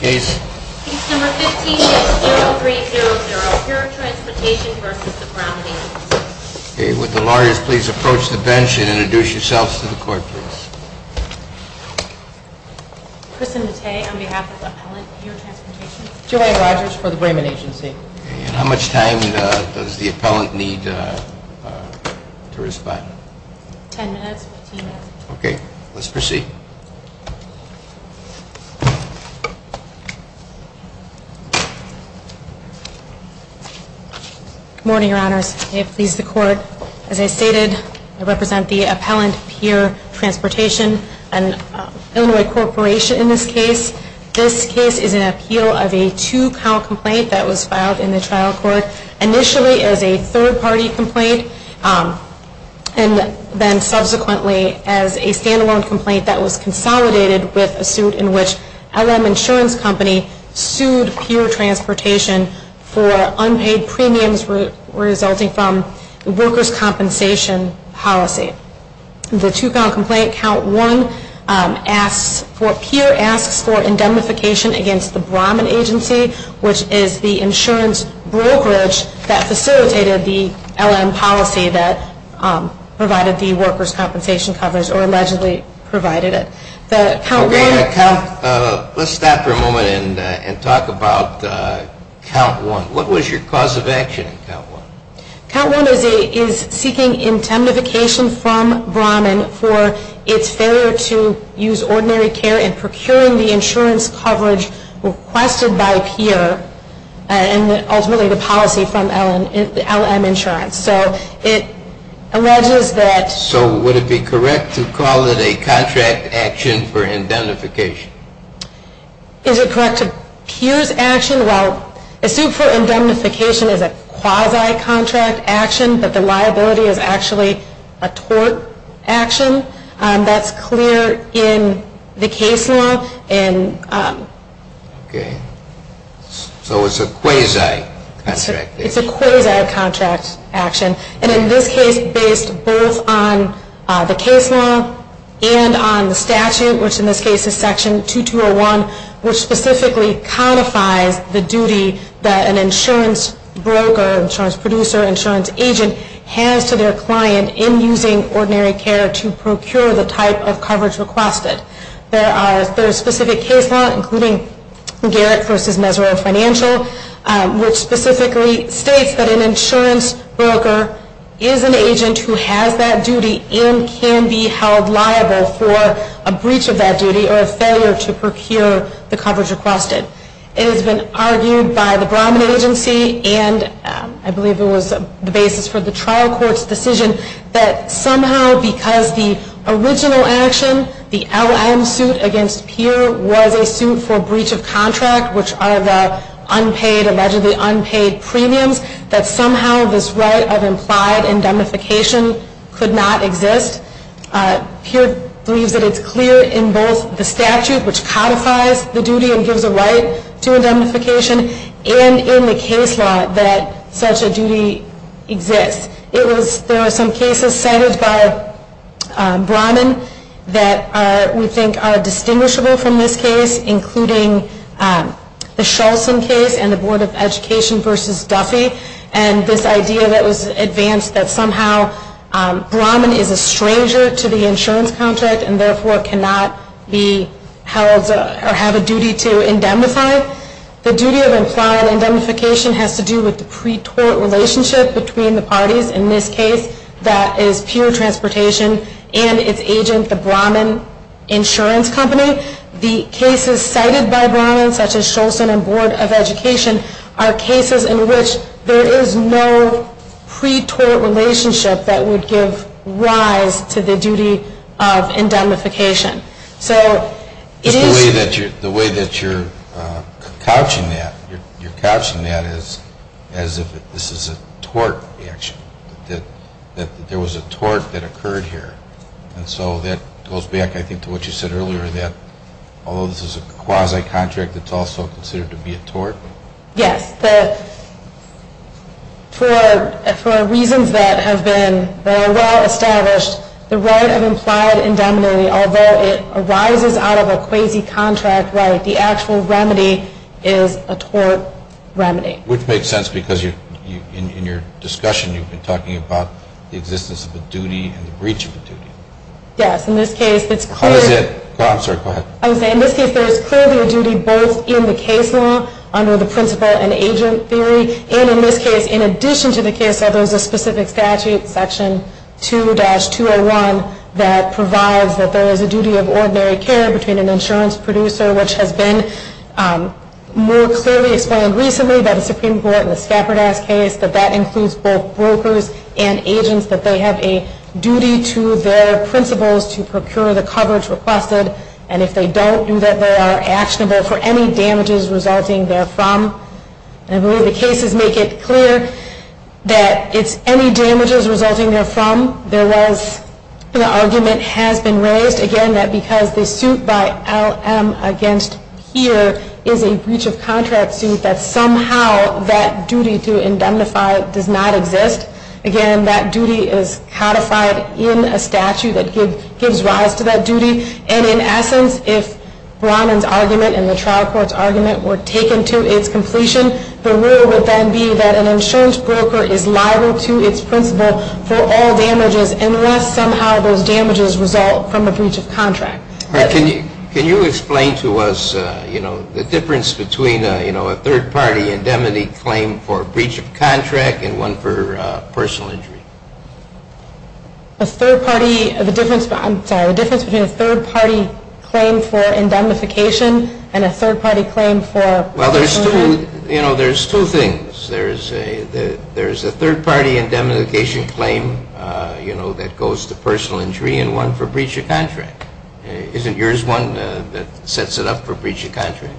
Case? Case number 15-6-0300, Pure Transportation v. the Braman Agency. Okay, would the lawyers please approach the bench and introduce yourselves to the court, please. Kristen Mattei, on behalf of Appellant, Pure Transportation. Joanne Rogers, for the Braman Agency. Okay, and how much time does the appellant need to respond? 10 minutes, 15 minutes. Okay, let's proceed. Good morning, your honors. May it please the court. As I stated, I represent the Appellant, Pure Transportation, an Illinois corporation in this case. This case is an appeal of a two-count complaint that was filed in the trial court, initially as a third-party complaint, and then subsequently as a stand-alone complaint that was consolidated with a suit in which LM Insurance Company sued Pure Transportation for unpaid premiums resulting from workers' compensation policy. The two-count complaint, Count 1, asks for, Pure asks for indemnification against the Braman Agency, which is the insurance brokerage that facilitated the LM policy that provided the workers' compensation coverage, or allegedly provided it. Okay, let's stop for a moment and talk about Count 1. What was your cause of action in Count 1? Count 1 is seeking indemnification from Braman for its failure to use ordinary care in procuring the insurance coverage requested by Pure and ultimately the policy from LM Insurance. So it alleges that... So would it be correct to call it a contract action for indemnification? Is it correct to use action? Well, a suit for indemnification is a quasi-contract action, but the liability is actually a tort action. That's clear in the case law. Okay. So it's a quasi-contract action. It's a quasi-contract action. And in this case, based both on the case law and on the statute, which in this case is Section 2201, which specifically codifies the duty that an insurance broker, insurance producer, insurance agent, has to their client in using ordinary care to procure the type of coverage requested. There are specific case law, including Garrett v. Mesero Financial, which specifically states that an insurance broker is an agent who has that duty and can be held liable for a breach of that duty or a failure to procure the coverage requested. It has been argued by the Brahman Agency, and I believe it was the basis for the trial court's decision, that somehow because the original action, the LM suit against Peer, was a suit for breach of contract, which are the allegedly unpaid premiums, that somehow this right of implied indemnification could not exist. Peer believes that it's clear in both the statute, which codifies the duty and gives a right to indemnification, and in the case law that such a duty exists. There are some cases cited by Brahman that we think are distinguishable from this case, including the Schultz case and the Board of Education v. Duffy, and this idea that was advanced that somehow Brahman is a stranger to the insurance contract and therefore cannot be held or have a duty to indemnify. The duty of implied indemnification has to do with the pre-tort relationship between the parties, in this case that is Peer Transportation and its agent, the Brahman Insurance Company. The cases cited by Brahman, such as Schultz and Board of Education, are cases in which there is no pre-tort relationship that would give rise to the duty of indemnification. So it is... The way that you're couching that, you're couching that as if this is a tort action, that there was a tort that occurred here. And so that goes back, I think, to what you said earlier, that although this is a quasi-contract, it's also considered to be a tort? Yes. For reasons that have been well established, the right of implied indemnity, although it arises out of a quasi-contract right, the actual remedy is a tort remedy. Which makes sense because in your discussion, you've been talking about the existence of a duty and the breach of a duty. Yes. In this case, it's clear... What is it? I'm sorry, go ahead. I was saying, in this case, there is clearly a duty both in the case law, under the principal and agent theory, and in this case, in addition to the case law, there is a specific statute, Section 2-201, that provides that there is a duty of ordinary care between an insurance producer, which has been more clearly explained recently by the Supreme Court in the Skaperdas case, that that includes both brokers and agents, that they have a duty to their principals to procure the coverage requested, and if they don't, do that they are actionable for any damages resulting therefrom. I believe the cases make it clear that it's any damages resulting therefrom. There was, the argument has been raised, again, that because the suit by LM against here is a breach of contract suit, that somehow that duty to indemnify does not exist. Again, that duty is codified in a statute that gives rise to that duty, and in essence, if Brahman's argument and the trial court's argument were taken to its completion, the rule would then be that an insurance broker is liable to its principal for all damages unless somehow those damages result from a breach of contract. Can you explain to us, you know, the difference between, you know, a third-party indemnity claim for breach of contract and one for personal injury? A third-party, the difference, I'm sorry, the difference between a third-party claim for indemnification and a third-party claim for... Well, there's two, you know, there's two things. There's a third-party indemnification claim, you know, that goes to personal injury and one for breach of contract. Isn't yours one that sets it up for breach of contract?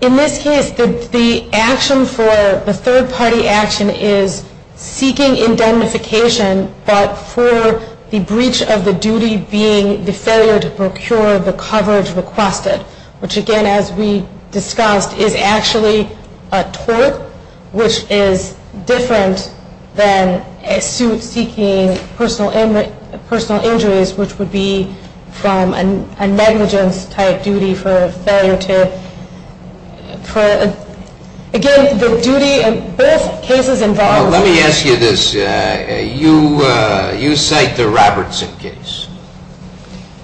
In this case, the action for, the third-party action is seeking indemnification, but for the breach of the duty being the failure to procure the coverage requested, which, again, as we discussed, is actually a tort, which is different than a suit seeking personal injuries, which would be from a negligence-type duty for failure to... Again, the duty in both cases involves... Let me ask you this. You cite the Robertson case.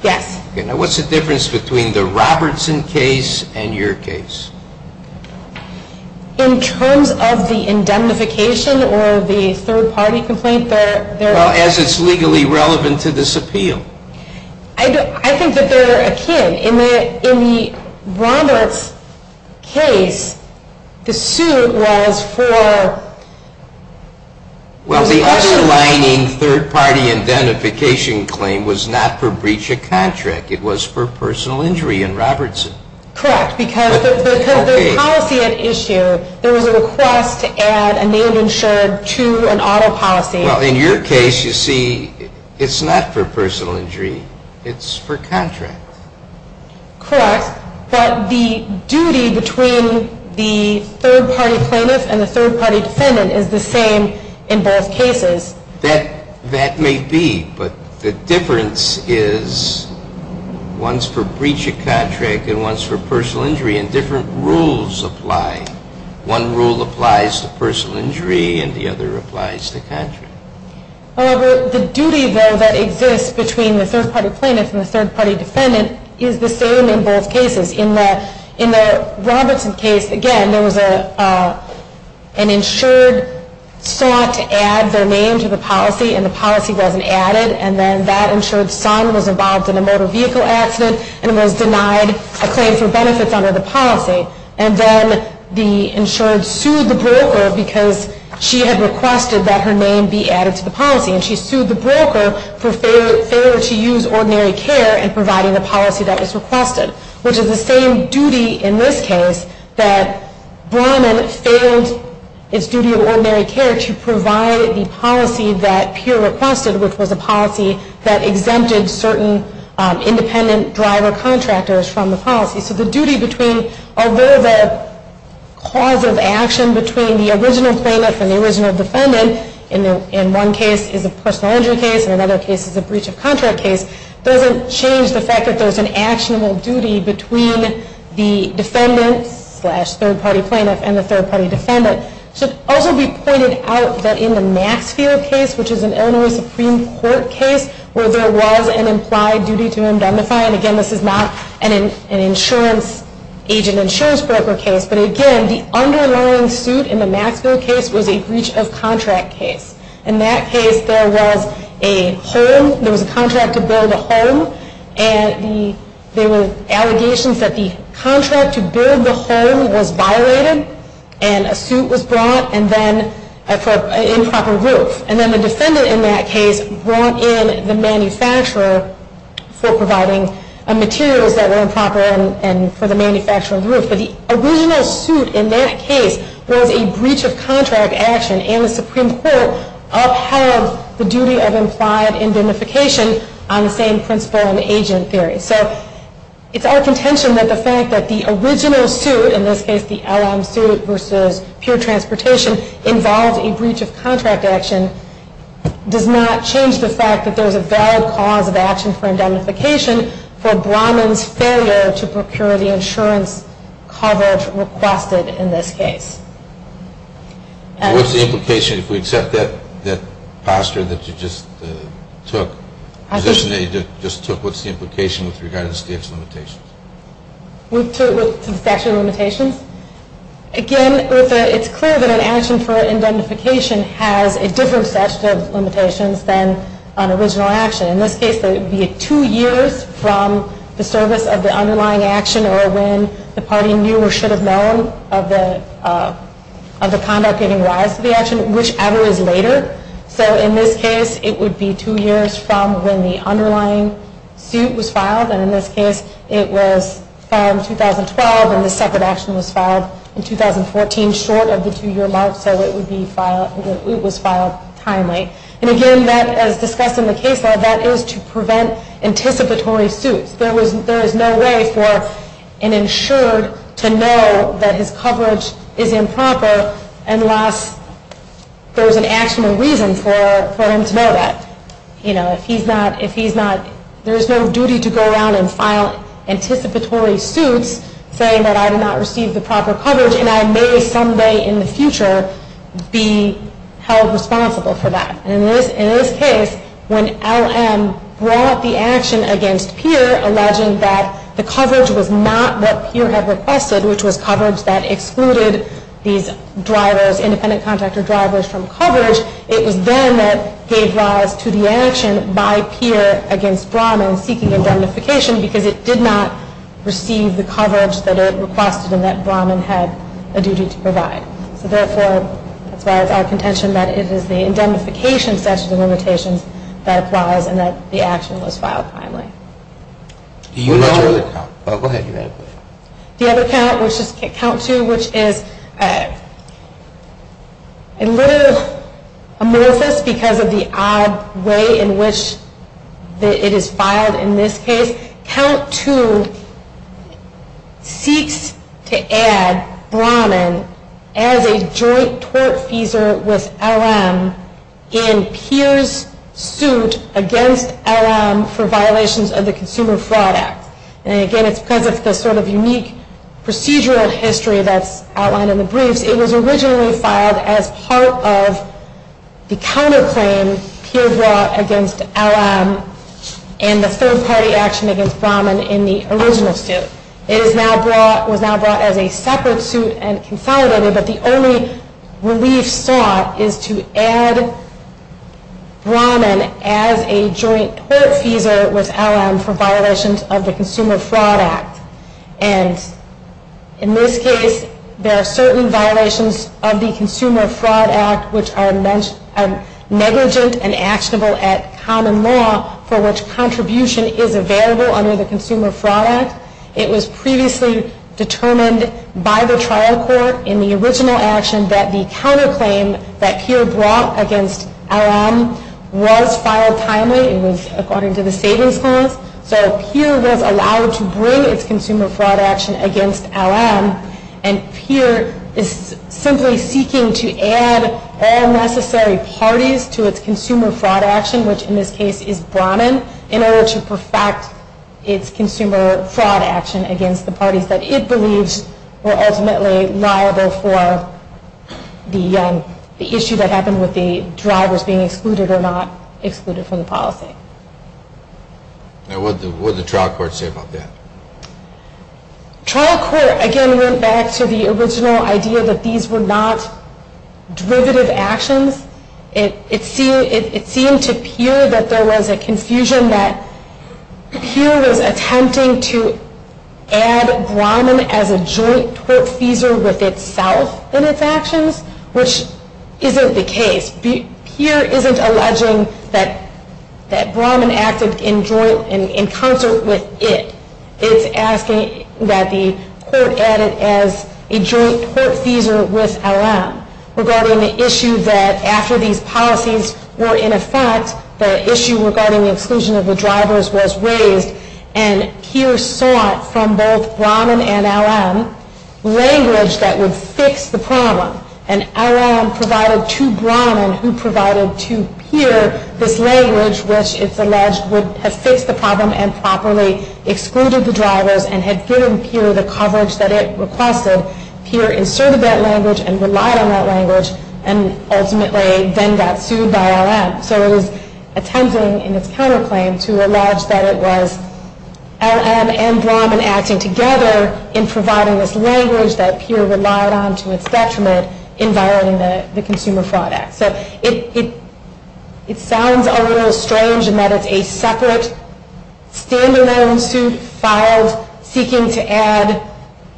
Yes. Okay. Now, what's the difference between the Robertson case and your case? In terms of the indemnification or the third-party complaint, there... Well, as it's legally relevant to this appeal. I think that they're akin. In the Roberts case, the suit was for... Well, the other lining third-party indemnification claim was not for breach of contract. It was for personal injury in Robertson. Correct, because the policy at issue, there was a request to add a name insured to an auto policy. Well, in your case, you see, it's not for personal injury. It's for contract. Correct, but the duty between the third-party plaintiff and the third-party defendant is the same in both cases. That may be, but the difference is one's for breach of contract and one's for personal injury, and different rules apply. One rule applies to personal injury and the other applies to contract. However, the duty, though, that exists between the third-party plaintiff and the third-party defendant is the same in both cases. In the Robertson case, again, there was an insured sought to add their name to the policy, and the policy wasn't added, and then that insured son was involved in a motor vehicle accident and was denied a claim for benefits under the policy. And then the insured sued the broker because she had requested that her name be added to the policy, and she sued the broker for failure to use ordinary care in providing the policy that was requested, which is the same duty in this case that Brahman failed its duty of ordinary care to provide the policy that Peer requested, which was a policy that exempted certain independent driver contractors from the policy. So the duty between, although the cause of action between the original plaintiff and the original defendant in one case is a personal injury case and another case is a breach of contract case, doesn't change the fact that there's an actionable duty between the defendant slash third-party plaintiff and the third-party defendant. It should also be pointed out that in the Maxfield case, which is an Illinois Supreme Court case where there was an implied duty to indemnify, and again, this is not an insurance agent insurance broker case, but again, the underlying suit in the Maxfield case was a breach of contract case. In that case, there was a home, there was a contract to build a home, and there were allegations that the contract to build the home was violated and a suit was brought for an improper roof. And then the defendant in that case brought in the manufacturer for providing materials that were improper and for the manufacturer of the roof. But the original suit in that case was a breach of contract action, and the Supreme Court upheld the duty of implied indemnification on the same principle and agent theory. So it's our contention that the fact that the original suit, in this case the LM suit versus pure transportation, involved a breach of contract action, does not change the fact that there's a valid cause of action for indemnification for Brahman's failure to procure the insurance coverage requested in this case. What's the implication, if we accept that posture that you just took, the position that you just took, what's the implication with regard to the statute of limitations? With the statute of limitations? Again, it's clear that an action for indemnification has a different statute of limitations than an original action. In this case, it would be two years from the service of the underlying action or when the party knew or should have known of the conduct giving rise to the action, whichever is later. So in this case, it would be two years from when the underlying suit was filed. And in this case, it was filed in 2012, and the separate action was filed in 2014, short of the two-year mark. So it was filed timely. And again, as discussed in the case law, that is to prevent anticipatory suits. There is no way for an insured to know that his coverage is improper unless there is an actual reason for him to know that. You know, if he's not, there is no duty to go around and file anticipatory suits saying that I did not receive the proper coverage and I may someday in the future be held responsible for that. And in this case, when LM brought the action against Peer alleging that the coverage was not what Peer had requested, which was coverage that excluded these drivers, independent contractor drivers, from coverage, it was then that gave rise to the action by Peer against Brahman seeking indemnification because it did not receive the coverage that it requested and that Brahman had a duty to provide. So therefore, that's why it's our contention that it is the indemnification, such as the limitations, that applies and that the action was filed timely. Do you have a count? Go ahead. Do you have a count, which is count two, which is a little amorphous because of the odd way in which it is filed in this case. Count two seeks to add Brahman as a joint tortfeasor with LM in Peer's suit against LM for violations of the Consumer Fraud Act. And again, it's because of the sort of unique procedural history that's outlined in the briefs. It was originally filed as part of the counterclaim Peer brought against LM and the third-party action against Brahman in the original suit. It was now brought as a separate suit and consolidated, but the only relief sought is to add Brahman as a joint tortfeasor with LM for violations of the Consumer Fraud Act. And in this case, there are certain violations of the Consumer Fraud Act which are negligent and actionable at common law for which contribution is available under the Consumer Fraud Act. It was previously determined by the trial court in the original action that the counterclaim that Peer brought against LM was filed timely. It was according to the savings clause. So Peer was allowed to bring its Consumer Fraud Action against LM and Peer is simply seeking to add all necessary parties to its Consumer Fraud Action, which in this case is Brahman, in order to perfect its Consumer Fraud Action against the parties that it believes were ultimately liable for the issue that happened with the drivers being excluded or not excluded from the policy. Now, what did the trial court say about that? Trial court, again, went back to the original idea that these were not derivative actions. It seemed to Peer that there was a confusion that Peer was attempting to add Brahman as a joint tortfeasor with itself in its actions, which isn't the case. Peer isn't alleging that Brahman acted in concert with it. It's asking that the court add it as a joint tortfeasor with LM regarding the issue that after these policies were in effect, the issue regarding the exclusion of the drivers was raised and Peer sought from both Brahman and LM language that would fix the problem. And LM provided to Brahman, who provided to Peer this language, which it's alleged would have fixed the problem and properly excluded the drivers and had given Peer the coverage that it requested. Peer inserted that language and relied on that language and ultimately then got sued by LM. So it is attempting in its counterclaim to allege that it was LM and Brahman acting together in providing this language that Peer relied on to its detriment in violating the Consumer Fraud Act. So it sounds a little strange in that it's a separate stand-alone suit filed seeking to add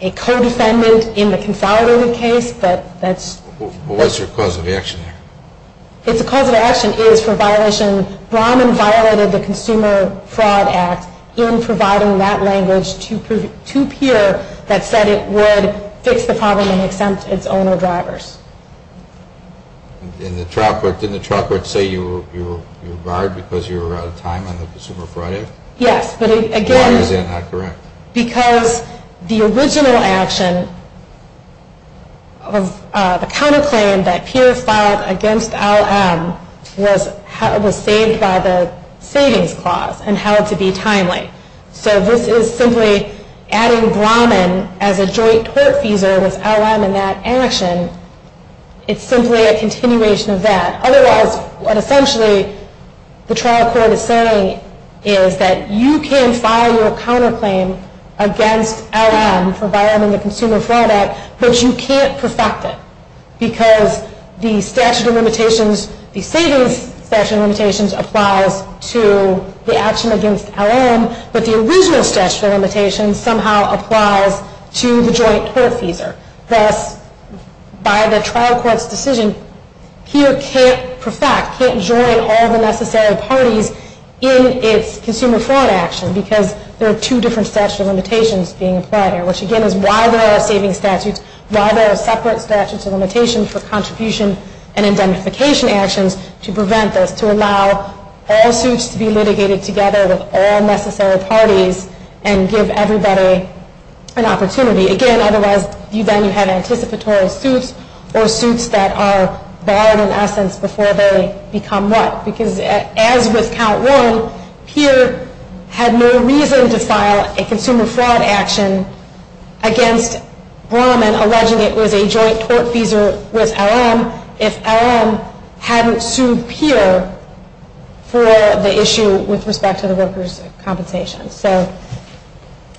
a co-defendant in the consolidated case, but that's... Well, what's your cause of action there? The cause of action is for violation. Brahman violated the Consumer Fraud Act in providing that language to Peer that said it would fix the problem and exempt its owner drivers. Didn't the trial court say you were barred because you were out of time on the Consumer Fraud Act? Yes, but again... Why is that not correct? Because the original action of the counterclaim that Peer filed against LM was saved by the Savings Clause and held to be timely. So this is simply adding Brahman as a joint tortfeasor with LM in that action. It's simply a continuation of that. Otherwise, what essentially the trial court is saying is that you can file your counterclaim against LM for violating the Consumer Fraud Act, but you can't perfect it because the Savings Statute of Limitations applies to the action against LM, but the original Statute of Limitations somehow applies to the joint tortfeasor. Thus, by the trial court's decision, Peer can't perfect, can't join all the necessary parties in its Consumer Fraud Action because there are two different Statutes of Limitations being applied here, which again is why there are Savings Statutes, why there are separate Statutes of Limitations for contribution and indemnification actions to prevent this, to allow all suits to be litigated together with all necessary parties and give everybody an opportunity. Again, otherwise then you have anticipatory suits or suits that are barred in essence before they become what? Because as with Count Warren, Peer had no reason to file a Consumer Fraud Action against Brahman when alleging it was a joint tortfeasor with LM if LM hadn't sued Peer for the issue with respect to the workers' compensation. So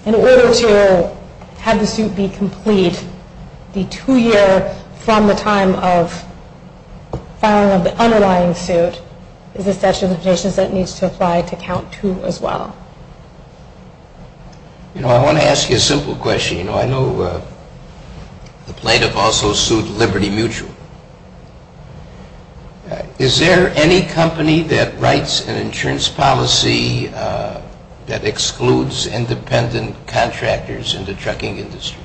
in order to have the suit be complete, the two-year from the time of filing of the underlying suit is a Statute of Limitations that needs to apply to Count Two as well. You know, I want to ask you a simple question. You know, I know the plaintiff also sued Liberty Mutual. Is there any company that writes an insurance policy that excludes independent contractors in the trucking industry?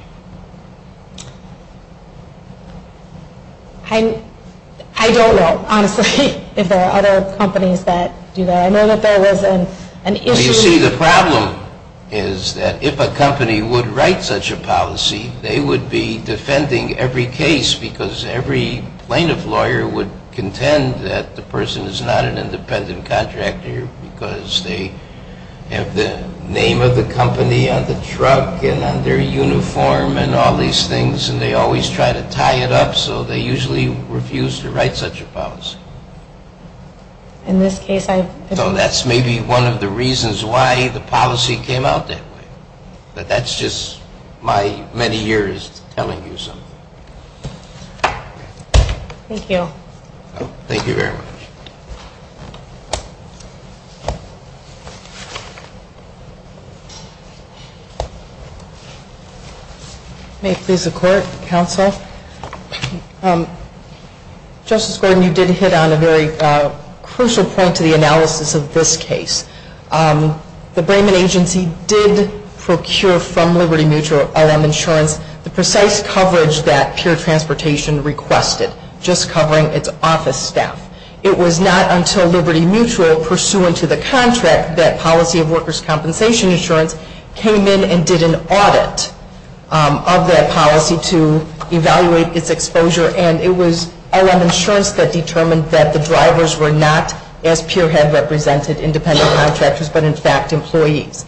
I don't know, honestly, if there are other companies that do that. I know that there was an issue with the company but I would say the problem is that if a company would write such a policy, they would be defending every case because every plaintiff lawyer would contend that the person is not an independent contractor because they have the name of the company on the truck and on their uniform and all these things and they always try to tie it up so they usually refuse to write such a policy. In this case, I... So that's maybe one of the reasons why the policy came out that way. But that's just my many years telling you something. Thank you. Thank you very much. May it please the Court, Counsel. Justice Gordon, you did hit on a very crucial point to the analysis of this case. The Brayman Agency did procure from Liberty Mutual LM Insurance the precise coverage that Peer Transportation requested, just covering its office staff. It was not until Liberty Mutual, pursuant to the contract, that policy of workers' compensation insurance came in and did an audit of that policy to evaluate its exposure and it was LM Insurance that determined that the drivers were not, as Peer had represented, independent contractors but, in fact, employees.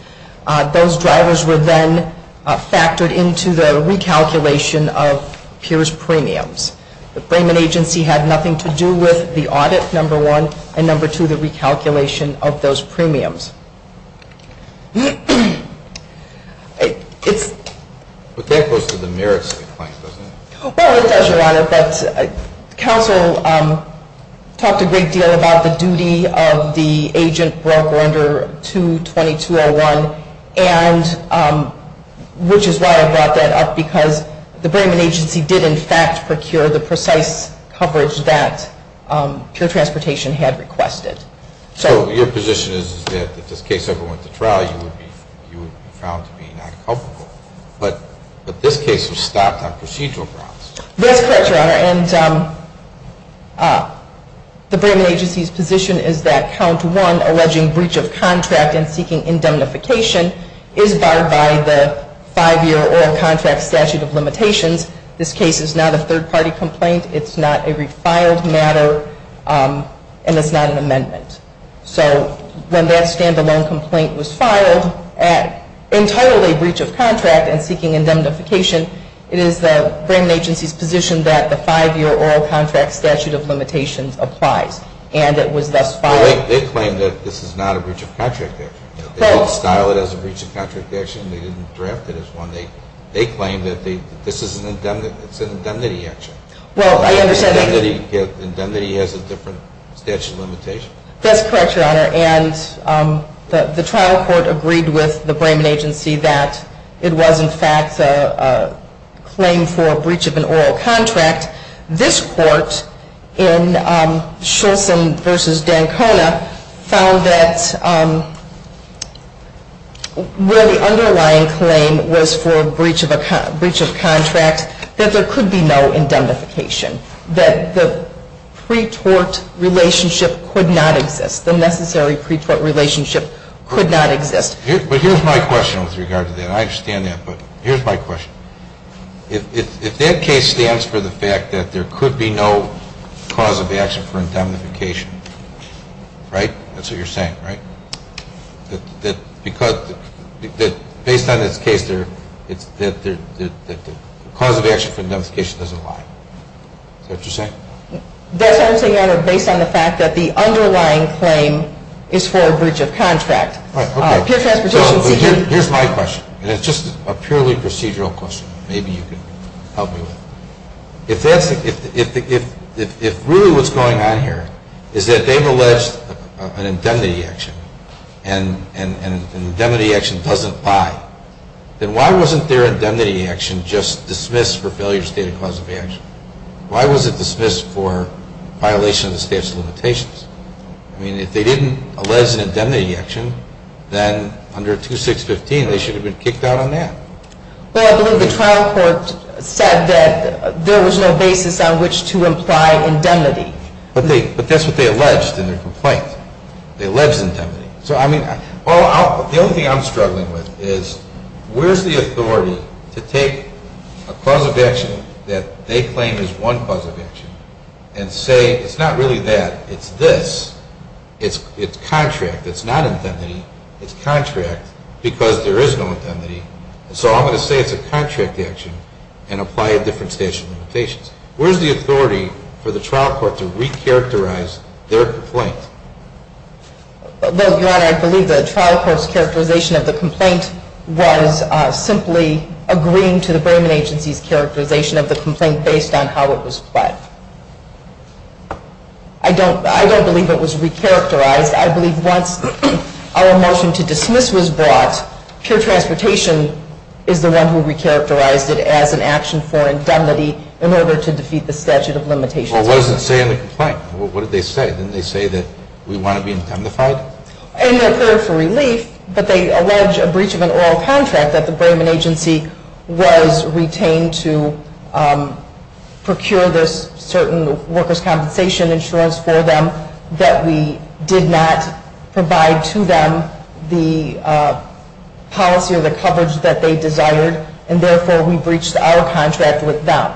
Those drivers were then factored into the recalculation of Peer's premiums. The Brayman Agency had nothing to do with the audit, number one, and, number two, the recalculation of those premiums. But that goes to the merits of the claim, doesn't it? Well, it does, Your Honor, but Counsel talked a great deal about the duty of the agent broker under 22201, which is why I brought that up because the Brayman Agency did, in fact, procure the precise coverage that Peer Transportation had requested. So your position is that if this case ever went to trial, you would be found to be not culpable. But this case was stopped on procedural grounds. That's correct, Your Honor, and the Brayman Agency's position is that count one, alleging breach of contract and seeking indemnification, is barred by the five-year oral contract statute of limitations. This case is not a third-party complaint. It's not a refiled matter, and it's not an amendment. So when that stand-alone complaint was filed, in total a breach of contract and seeking indemnification, it is the Brayman Agency's position that the five-year oral contract statute of limitations applies, and it was thus filed. Well, they claim that this is not a breach of contract action. They didn't style it as a breach of contract action. They didn't draft it as one. They claim that this is an indemnity action. Well, I understand that. Indemnity has a different statute of limitations. That's correct, Your Honor. And the trial court agreed with the Brayman Agency that it was, in fact, a claim for a breach of an oral contract. This court in Scholson v. Dancona found that where the underlying claim was for a breach of contract, that there could be no indemnification, that the pre-tort relationship could not exist, the necessary pre-tort relationship could not exist. But here's my question with regard to that. I understand that, but here's my question. If that case stands for the fact that there could be no cause of action for indemnification, right? That's what you're saying, right? That based on this case, the cause of action for indemnification doesn't lie. Is that what you're saying? That's also, Your Honor, based on the fact that the underlying claim is for a breach of contract. Here's my question, and it's just a purely procedural question. Maybe you can help me with it. If really what's going on here is that they've alleged an indemnity action, and an indemnity action doesn't lie, then why wasn't their indemnity action just dismissed for failure to state a cause of action? I mean, if they didn't allege an indemnity action, then under 2615, they should have been kicked out on that. Well, I believe the trial court said that there was no basis on which to imply indemnity. But that's what they alleged in their complaint. They alleged indemnity. So, I mean, the only thing I'm struggling with is, where's the authority to take a cause of action that they claim is one cause of action and say, it's not really that, it's this. It's contract. It's not indemnity. It's contract because there is no indemnity. So, I'm going to say it's a contract action and apply a different statute of limitations. Where's the authority for the trial court to recharacterize their complaint? Well, Your Honor, I believe the trial court's characterization of the complaint was simply agreeing to the I don't believe it was recharacterized. I believe once our motion to dismiss was brought, pure transportation is the one who recharacterized it as an action for indemnity in order to defeat the statute of limitations. Well, what does it say in the complaint? What did they say? Didn't they say that we want to be indemnified? It didn't occur for relief, but they allege a breach of an oral contract that the Brayman Agency was retained to procure this certain workers' compensation insurance for them that we did not provide to them the policy or the coverage that they desired, and therefore we breached our contract with them.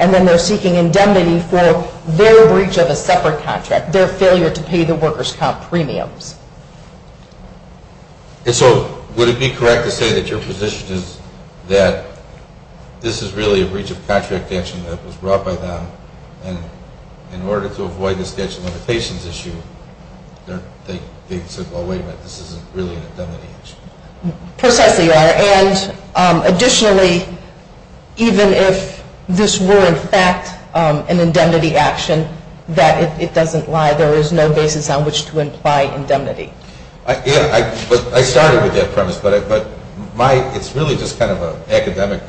And then they're seeking indemnity for their breach of a separate contract, their failure to pay the workers' comp premiums. And so would it be correct to say that your position is that this is really a breach of contract action that was brought by them, and in order to avoid the statute of limitations issue, they said, well, wait a minute, this isn't really an indemnity action? Precisely, Your Honor. And additionally, even if this were in fact an indemnity action, that it doesn't lie. There is no basis on which to imply indemnity. Yeah, I started with that premise, but it's really just kind of an academic,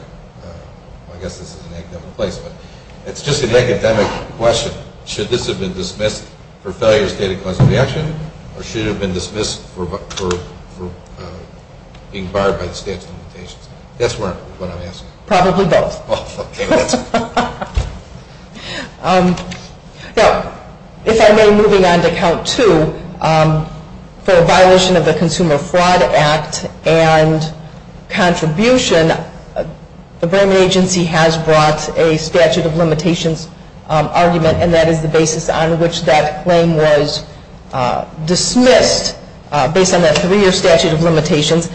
I guess this is an academic place, but it's just an academic question. Should this have been dismissed for failure to state a cause of action, or should it have been dismissed for being barred by the statute of limitations? That's what I'm asking. Probably both. Now, if I may, moving on to count two, for a violation of the Consumer Fraud Act and contribution, the Bremen Agency has brought a statute of limitations argument, and that is the basis on which that claim was dismissed based on that three-year statute of limitations.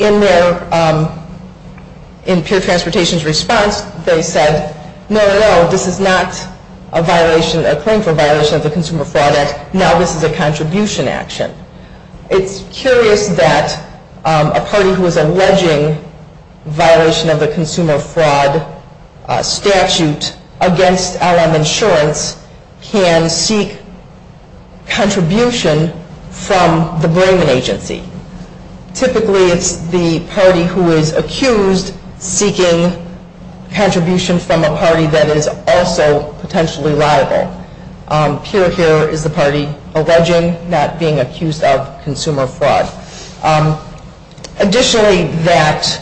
In their, in Peer Transportation's response, they said, no, no, this is not a violation, a claim for violation of the Consumer Fraud Act, now this is a contribution action. It's curious that a party who is alleging violation of the Consumer Fraud Statute against LM Insurance can seek contribution from the Bremen Agency. Typically, it's the party who is accused seeking contribution from a party that is also potentially liable. Peer here is the party alleging not being accused of consumer fraud. Additionally, that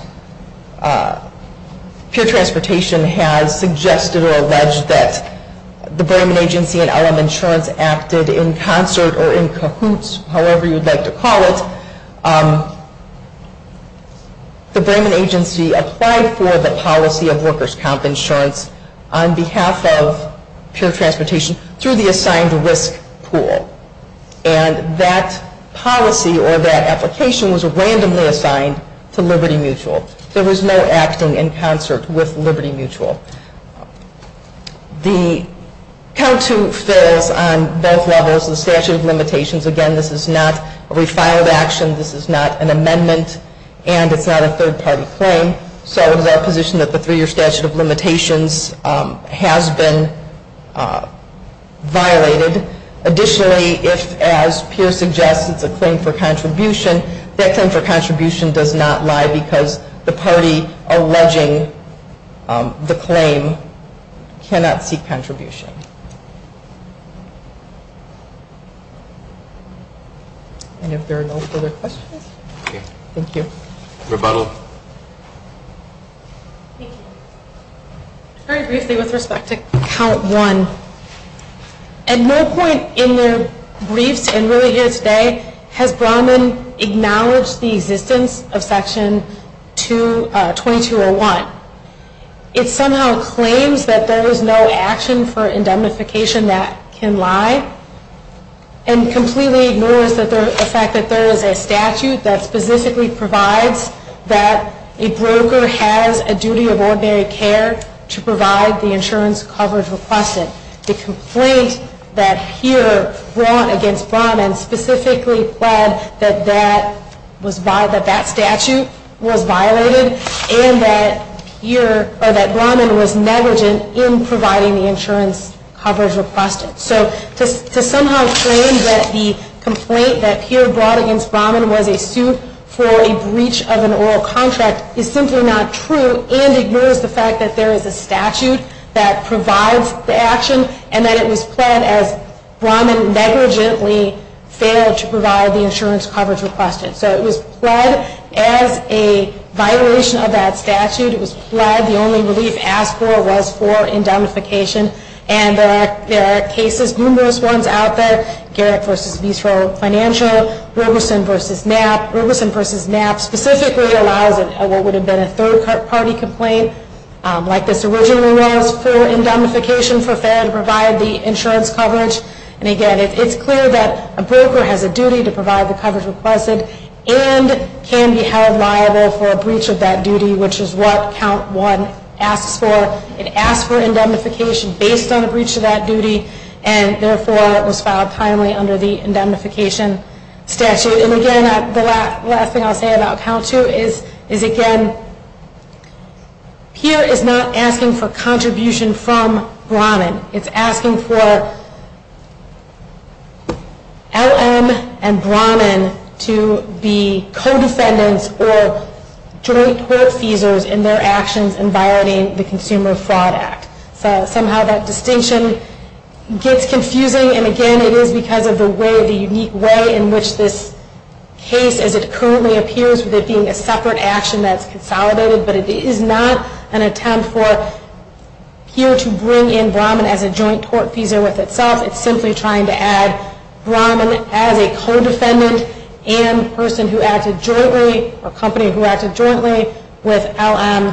Peer Transportation has suggested or alleged that the Bremen Agency and LM Insurance acted in concert or in cahoots, however you'd like to call it. The Bremen Agency applied for the policy of workers' comp insurance on behalf of Peer Transportation through the assigned risk pool. And that policy or that application was randomly assigned to Liberty Mutual. There was no acting in concert with Liberty Mutual. The COW 2 fails on both levels. The statute of limitations, again, this is not a refiled action, this is not an amendment, and it's not a third-party claim. So it is our position that the three-year statute of limitations has been violated. Additionally, if, as Peer suggests, it's a claim for contribution, that claim for contribution does not lie because the party alleging the claim cannot seek contribution. And if there are no further questions. Thank you. Rebuttal. Thank you. Very briefly with respect to count one. At no point in their briefs and really here today has Bronman acknowledged the existence of Section 2201. It somehow claims that there is no action for indemnification that can lie and completely ignores the fact that there is a statute that specifically provides that a broker has a duty of ordinary care to provide the insurance coverage requested. The complaint that Peer brought against Bronman specifically pled that that statute was violated and that Bronman was negligent in providing the insurance coverage requested. So to somehow claim that the complaint that Peer brought against Bronman was a suit for a breach of an oral contract is simply not true and ignores the fact that there is a statute that provides the action and that it was pled as Bronman negligently failed to provide the insurance coverage requested. So it was pled as a violation of that statute. It was pled, the only relief asked for was for indemnification. And there are cases, numerous ones out there, Garrett v. Visro Financial, Robeson v. Knapp. Robeson v. Knapp specifically allows what would have been a third-party complaint like this originally was for indemnification for failing to provide the insurance coverage. And again, it's clear that a broker has a duty to provide the coverage requested and can be held liable for a breach of that duty, which is what count one asks for. It asks for indemnification based on a breach of that duty, and therefore it was filed timely under the indemnification statute. And again, the last thing I'll say about count two is, again, Peer is not asking for contribution from Bronman. It's asking for LM and Bronman to be co-defendants or joint court feasors in their actions in violating the Consumer Fraud Act. So somehow that distinction gets confusing, and again, it is because of the way, the unique way in which this case as it currently appears with it being a separate action that's consolidated, but it is not an attempt for Peer to bring in Bronman as a joint court feasor with itself. It's simply trying to add Bronman as a co-defendant and person who acted jointly or company who acted jointly with LM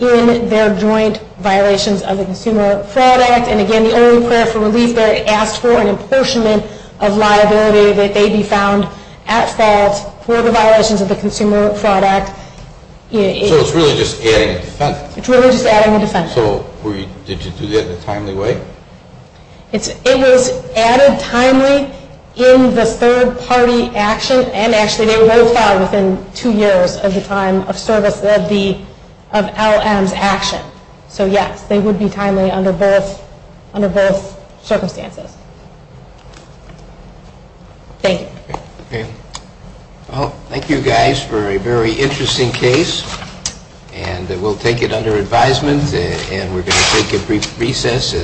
in their joint violations of the Consumer Fraud Act. And again, the only prayer for relief there, it asks for an apportionment of liability that they be found at fault for the violations of the Consumer Fraud Act. So it's really just adding a defendant? It's really just adding a defendant. So did you do that in a timely way? It was added timely in the third party action, and actually they were both filed within two years of the time of service of LM's action. So yes, they would be timely under both circumstances. Thank you. Well, thank you guys for a very interesting case, and we'll take it under advisement, and we're going to take a brief recess.